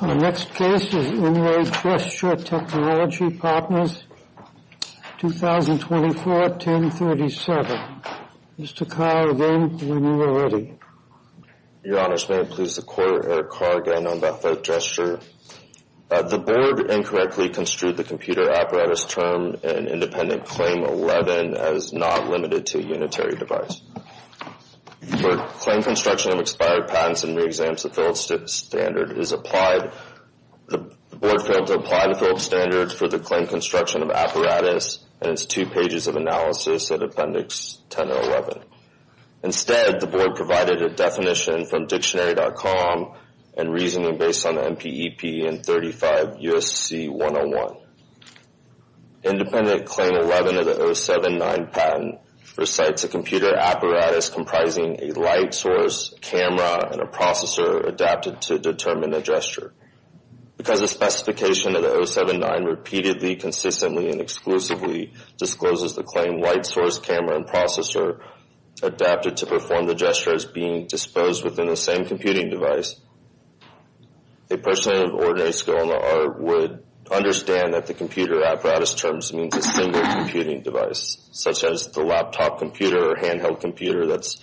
Our next case is In Re. Gesture Technology Partners, 2024-1037. Mr. Carr, again, when you are ready. Your Honors, may it please the Court, Eric Carr again on that third gesture. The Board incorrectly construed the computer apparatus term in Independent Claim 11 as not limited to a unitary device. For claim construction of expired patents and re-exams, the Phillips standard is applied, the Board failed to apply the Phillips standard for the claim construction of apparatus and its two pages of analysis at Appendix 10-11. Instead, the Board provided a definition from Dictionary.com and reasoning based on the MPEP and 35 U.S.C. 101. Independent Claim 11 of the 079 patent recites a computer apparatus comprising a light source, a camera, and a processor adapted to determine a gesture. Because the specification of the 079 repeatedly, consistently, and exclusively discloses the claim light source, camera, and processor adapted to perform the gesture as being disposed within the same computing device, a person of ordinary skill in the art would understand that the computer apparatus terms means a single computing device, such as the laptop computer or handheld computer that's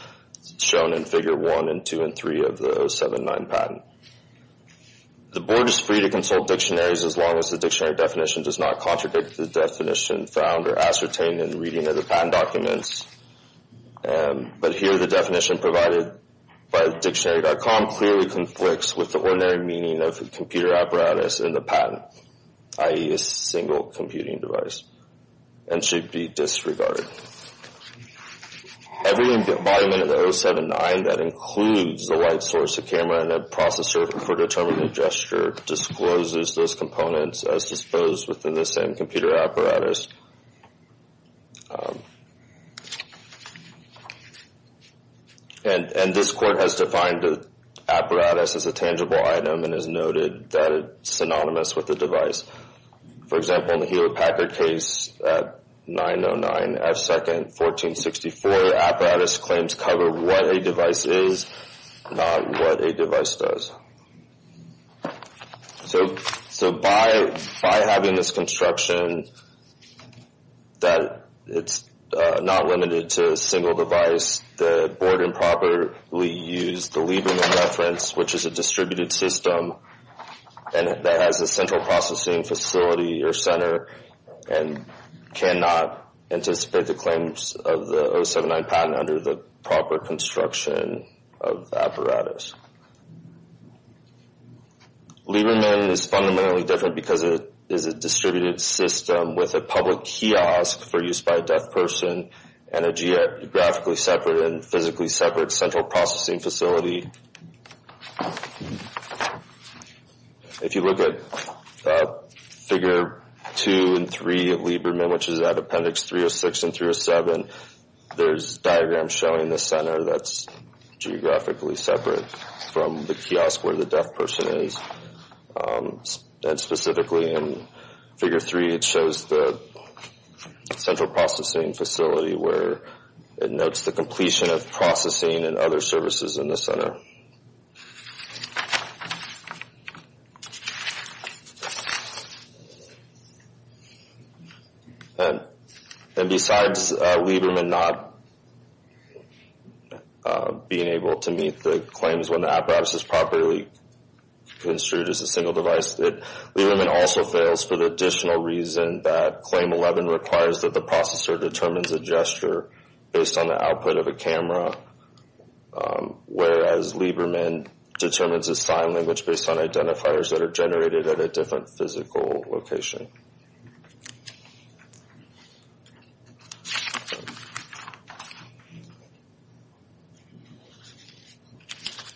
shown in Figure 1 and 2 and 3 of the 079 patent. The Board is free to consult dictionaries as long as the dictionary definition does not contradict the definition found or ascertained in reading of the patent documents. But here the definition provided by Dictionary.com clearly conflicts with the ordinary meaning of the computer apparatus in the patent, i.e. a single computing device, and should be disregarded. Every environment in the 079 that includes the light source, a camera, and a processor for determining a gesture discloses those components as disposed within the same computer apparatus. And this court has defined the apparatus as a tangible item and has noted that it's synonymous with the device. For example, in the Hewlett-Packard case at 909 F2nd 1464, apparatus claims cover what a device is, not what a device does. So by having this construction that it's not limited to a single device, the Board improperly used the Lieberman reference, which is a distributed system that has a central processing facility or center and cannot anticipate the claims of the 079 patent under the proper construction of apparatus. Lieberman is fundamentally different because it is a distributed system with a public kiosk for use by a deaf person and a geographically separate and physically separate central processing facility. If you look at Figure 2 and 3 of Lieberman, which is at Appendix 306 and 307, there's diagrams showing the center that's geographically separate from the kiosk where the deaf person is. And specifically in Figure 3, it shows the central processing facility where it notes the completion of processing and other services in the center. And besides Lieberman not being able to meet the claims when the apparatus is properly construed as a single device, Lieberman also fails for the additional reason that Claim 11 requires that the processor determines a gesture based on the output of a camera, whereas Lieberman determines a sign language based on identifiers that are generated at a different physical location.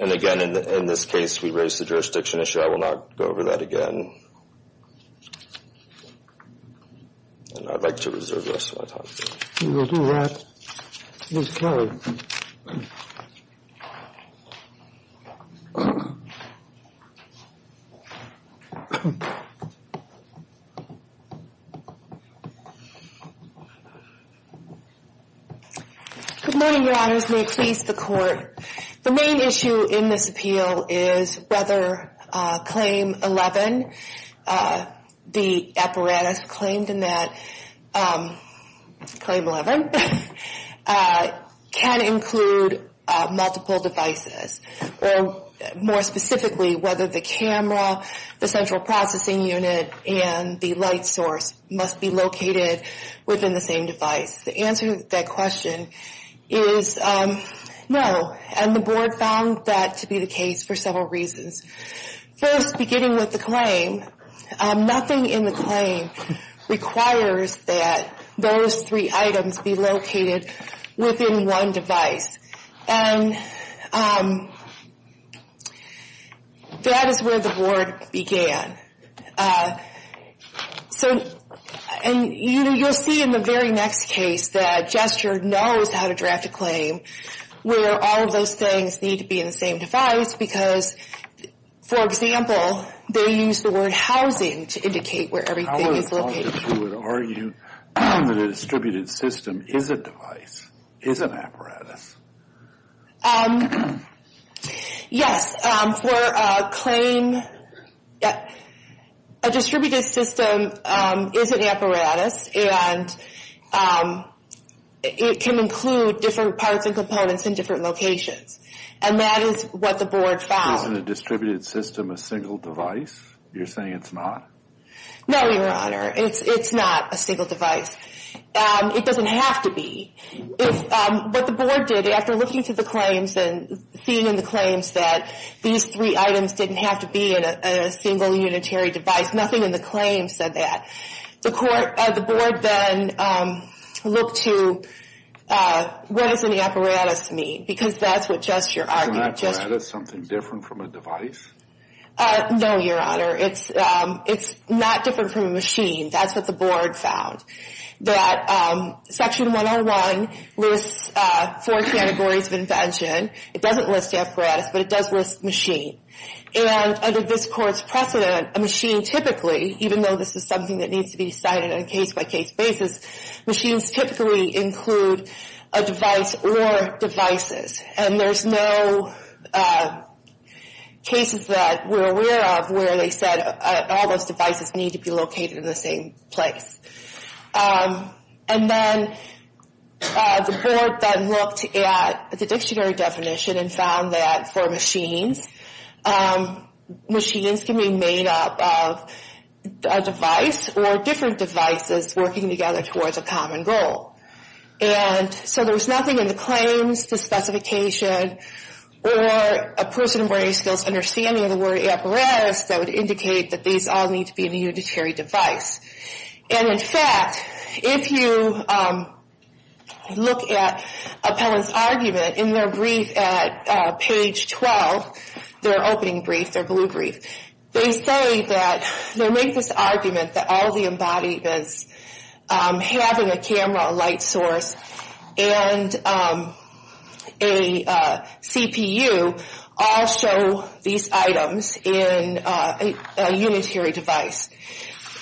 And again, in this case, we raised the jurisdiction issue. I will not go over that again. And I'd like to reserve the rest of my time. We will do that. Ms. Carey. Good morning, Your Honors. May it please the Court. The main issue in this appeal is whether Claim 11, the apparatus claimed in that, Claim 11, can include multiple devices. Or more specifically, whether the camera, the central processing unit, and the light source must be located within the same device. The answer to that question is no, and the Board found that to be the case for several reasons. First, beginning with the claim, nothing in the claim requires that those three items be located within one device. And that is where the Board began. So, and you'll see in the very next case that Gesture knows how to draft a claim, where all of those things need to be in the same device, because, for example, they use the word housing to indicate where everything is located. I would argue that a distributed system is a device, is an apparatus. Yes, for a claim, a distributed system is an apparatus. And it can include different parts and components in different locations. And that is what the Board found. Isn't a distributed system a single device? You're saying it's not? No, Your Honor. It's not a single device. It doesn't have to be. What the Board did, after looking through the claims and seeing in the claims that these three items didn't have to be in a single unitary device, nothing in the claim said that. The Board then looked to what does an apparatus mean? Because that's what Gesture argued. Isn't an apparatus something different from a device? No, Your Honor. It's not different from a machine. That's what the Board found. That Section 101 lists four categories of invention. It doesn't list apparatus, but it does list machine. And under this Court's precedent, a machine typically, even though this is something that needs to be cited on a case-by-case basis, machines typically include a device or devices. And there's no cases that we're aware of where they said all those devices need to be located in the same place. And then the Board then looked at the dictionary definition and found that for machines, machines can be made up of a device or different devices working together towards a common goal. And so there was nothing in the claims, the specification, or a person with a skills understanding of the word apparatus that would indicate that these all need to be in a unitary device. And in fact, if you look at Appellant's argument in their brief at page 12, their opening brief, their blue brief, they say that, they make this argument that all the embodiments having a camera, a light source, and a CPU all show these items in a unitary device.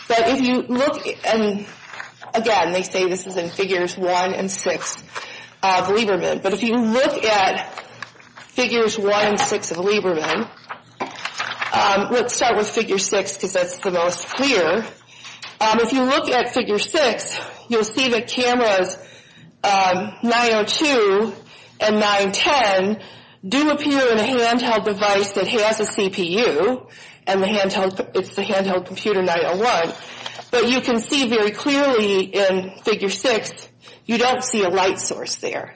But if you look, and again, they say this is in Figures 1 and 6 of Lieberman, but if you look at Figures 1 and 6 of Lieberman, let's start with Figure 6 because that's the most clear. If you look at Figure 6, you'll see that cameras 902 and 910 do appear in a handheld device that has a CPU, and it's the handheld computer 901. But you can see very clearly in Figure 6, you don't see a light source there.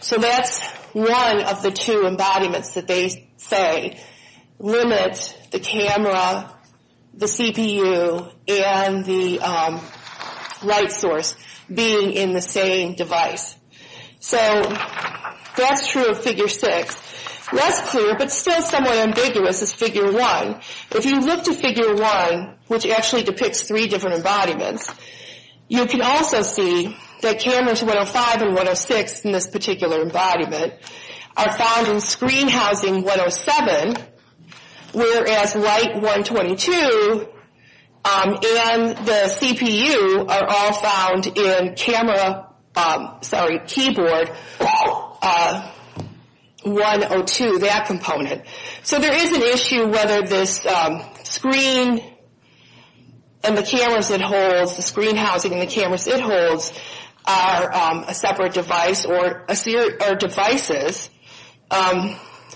So that's one of the two embodiments that they say limit the camera, the CPU, and the light source being in the same device. So that's true of Figure 6. Less clear, but still somewhat ambiguous, is Figure 1. If you look to Figure 1, which actually depicts three different embodiments, you can also see that cameras 105 and 106 in this particular embodiment are found in Screen Housing 107, whereas Light 122 and the CPU are all found in Camera, sorry, Keyboard 102, that component. So there is an issue whether this screen and the cameras it holds, the screen housing and the cameras it holds are a separate device or devices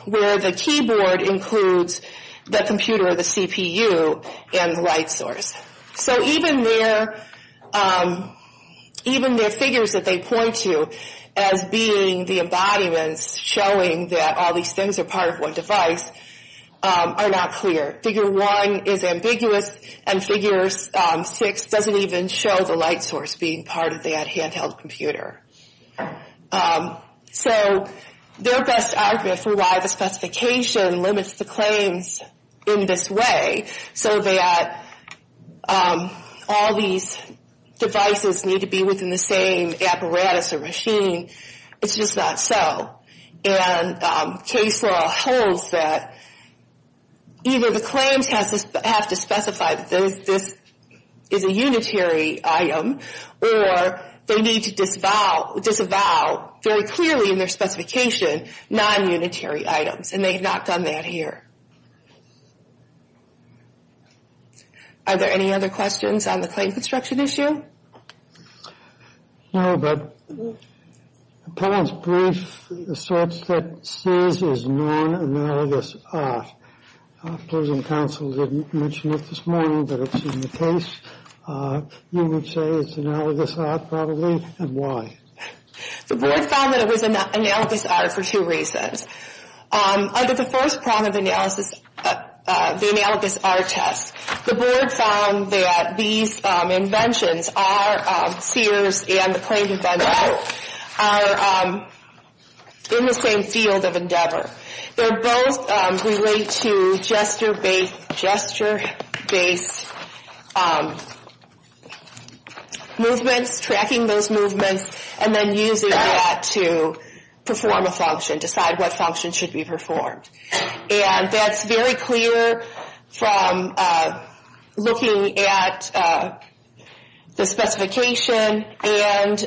where the keyboard includes the computer or the CPU and the light source. So even their figures that they point to as being the embodiments showing that all these things are part of one device are not clear. Figure 1 is ambiguous and Figure 6 doesn't even show the light source being part of that handheld computer. So their best argument for why the specification limits the claims in this way so that all these devices need to be within the same apparatus or machine, it's just not so. And case law holds that either the claims have to specify that this is a unitary item or they need to disavow very clearly in their specification non-unitary items. And they have not done that here. Are there any other questions on the claim construction issue? No, but the plaintiff's brief asserts that SIS is non-analogous R. The opposing counsel didn't mention it this morning, but it's in the case. You would say it's analogous R probably, and why? The board found that it was analogous R for two reasons. Under the first problem of analysis, the analogous R test, the board found that these inventions are, Sears and the plaintiff endowed, are in the same field of endeavor. They're both related to gesture-based movements, tracking those movements, and then using that to perform a function, decide what function should be performed. And that's very clear from looking at the specification and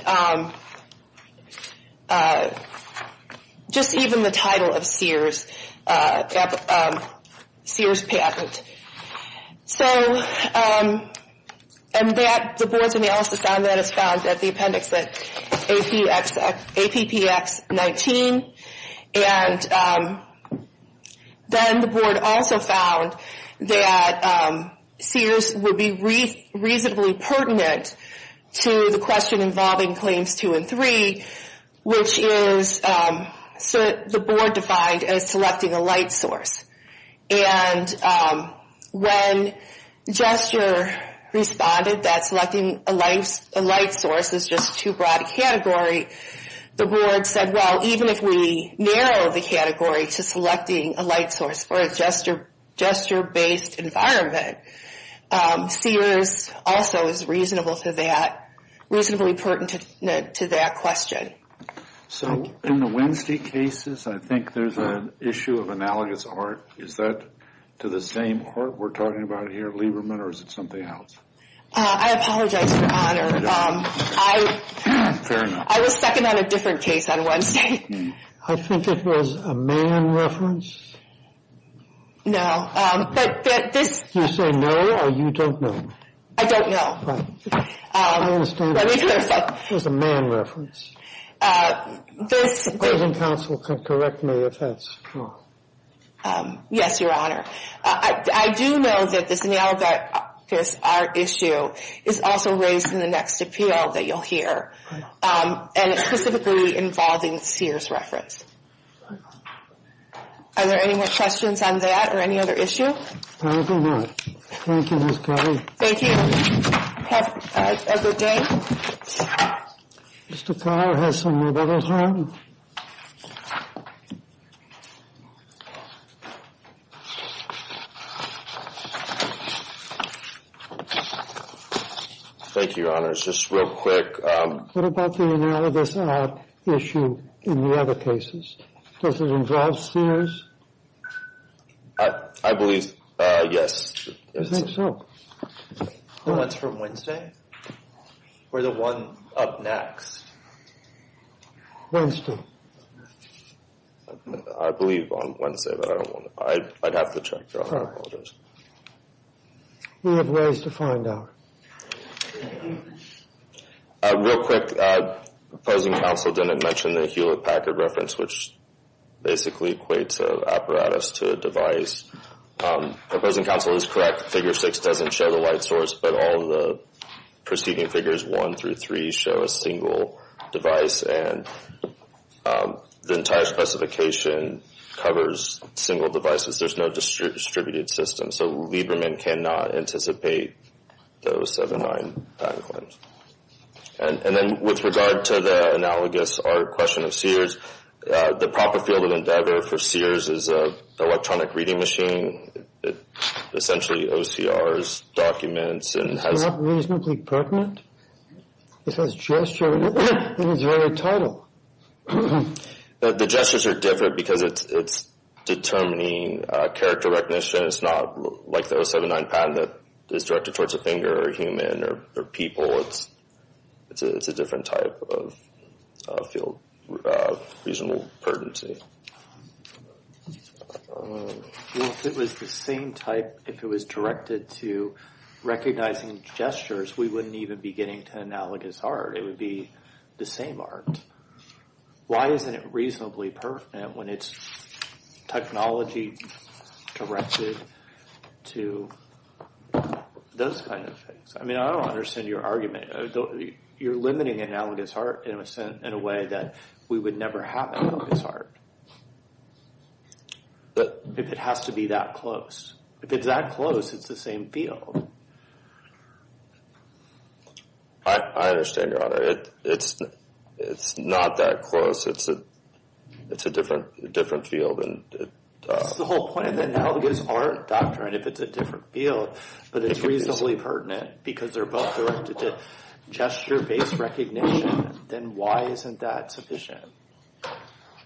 just even the title of Sears patent. So, and that, the board's analysis on that is found at the appendix APPX-19. And then the board also found that Sears would be reasonably pertinent to the question involving claims two and three, which is the board defined as selecting a light source. And when gesture responded that selecting a light source is just too broad a category, the board said, well, even if we narrow the category to selecting a light source for a gesture-based environment, Sears also is reasonable to that, reasonably pertinent to that question. So, in the Winstead cases, I think there's an issue of analogous R. Is that to the same R we're talking about here, Lieberman, or is it something else? I apologize for honor. Fair enough. I was second on a different case on Wednesday. I think it was a man reference. No, but this... You say no, or you don't know? I don't know. I understand. Let me clarify. It was a man reference. This... The present counsel can correct me if that's wrong. Yes, your honor. I do know that this analogous R issue is also raised in the next appeal that you'll hear. And it's specifically involving the Sears reference. Are there any more questions on that or any other issue? I don't know. Thank you, Ms. Kelly. Thank you. Have a good day. Mr. Kyl has some more bubble time. Thank you, honors. Just real quick. What about the analogous R issue in the other cases? Does it involve Sears? I believe, yes. I think so. The ones from Wednesday? Or the one up next? Wednesday. I believe on Wednesday, but I don't want to... I'd have to check, your honor. I apologize. We have ways to find out. Real quick, the present counsel didn't mention the Hewlett-Packard reference, which basically equates an apparatus to a device. The present counsel is correct. Figure 6 doesn't show the white source, but all the preceding figures 1 through 3 show a single device. And the entire specification covers single devices. There's no distributed system. So Lieberman cannot anticipate those 79 bank loans. And then with regard to the analogous R question of Sears, the proper field of endeavor for Sears is an electronic reading machine. Essentially, OCRs, documents, and has... It's not reasonably pertinent. It has gesture in its very title. The gestures are different because it's determining character recognition. It's not like the 079 patent that is directed towards a finger or human or people. It's a different type of field of reasonable pertinency. If it was the same type, if it was directed to recognizing gestures, we wouldn't even be getting to analogous art. It would be the same art. Why isn't it reasonably pertinent when it's technology directed to those kind of things? I mean, I don't understand your argument. You're limiting analogous art in a way that we would never have analogous art. If it has to be that close. If it's that close, it's the same field. I understand your honor, it's not that close, it's a different field. That's the whole point of the analogous art doctrine, if it's a different field, but it's reasonably pertinent because they're both directed to gesture-based recognition. Then why isn't that sufficient?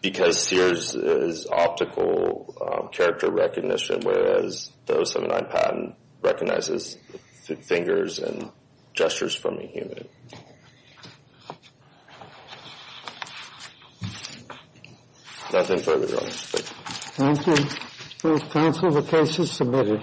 Because Sears is optical character recognition, whereas the 079 patent recognizes fingers and gestures from a human. Nothing further, your honor. Thank you. Thank you. Please cancel the case as submitted.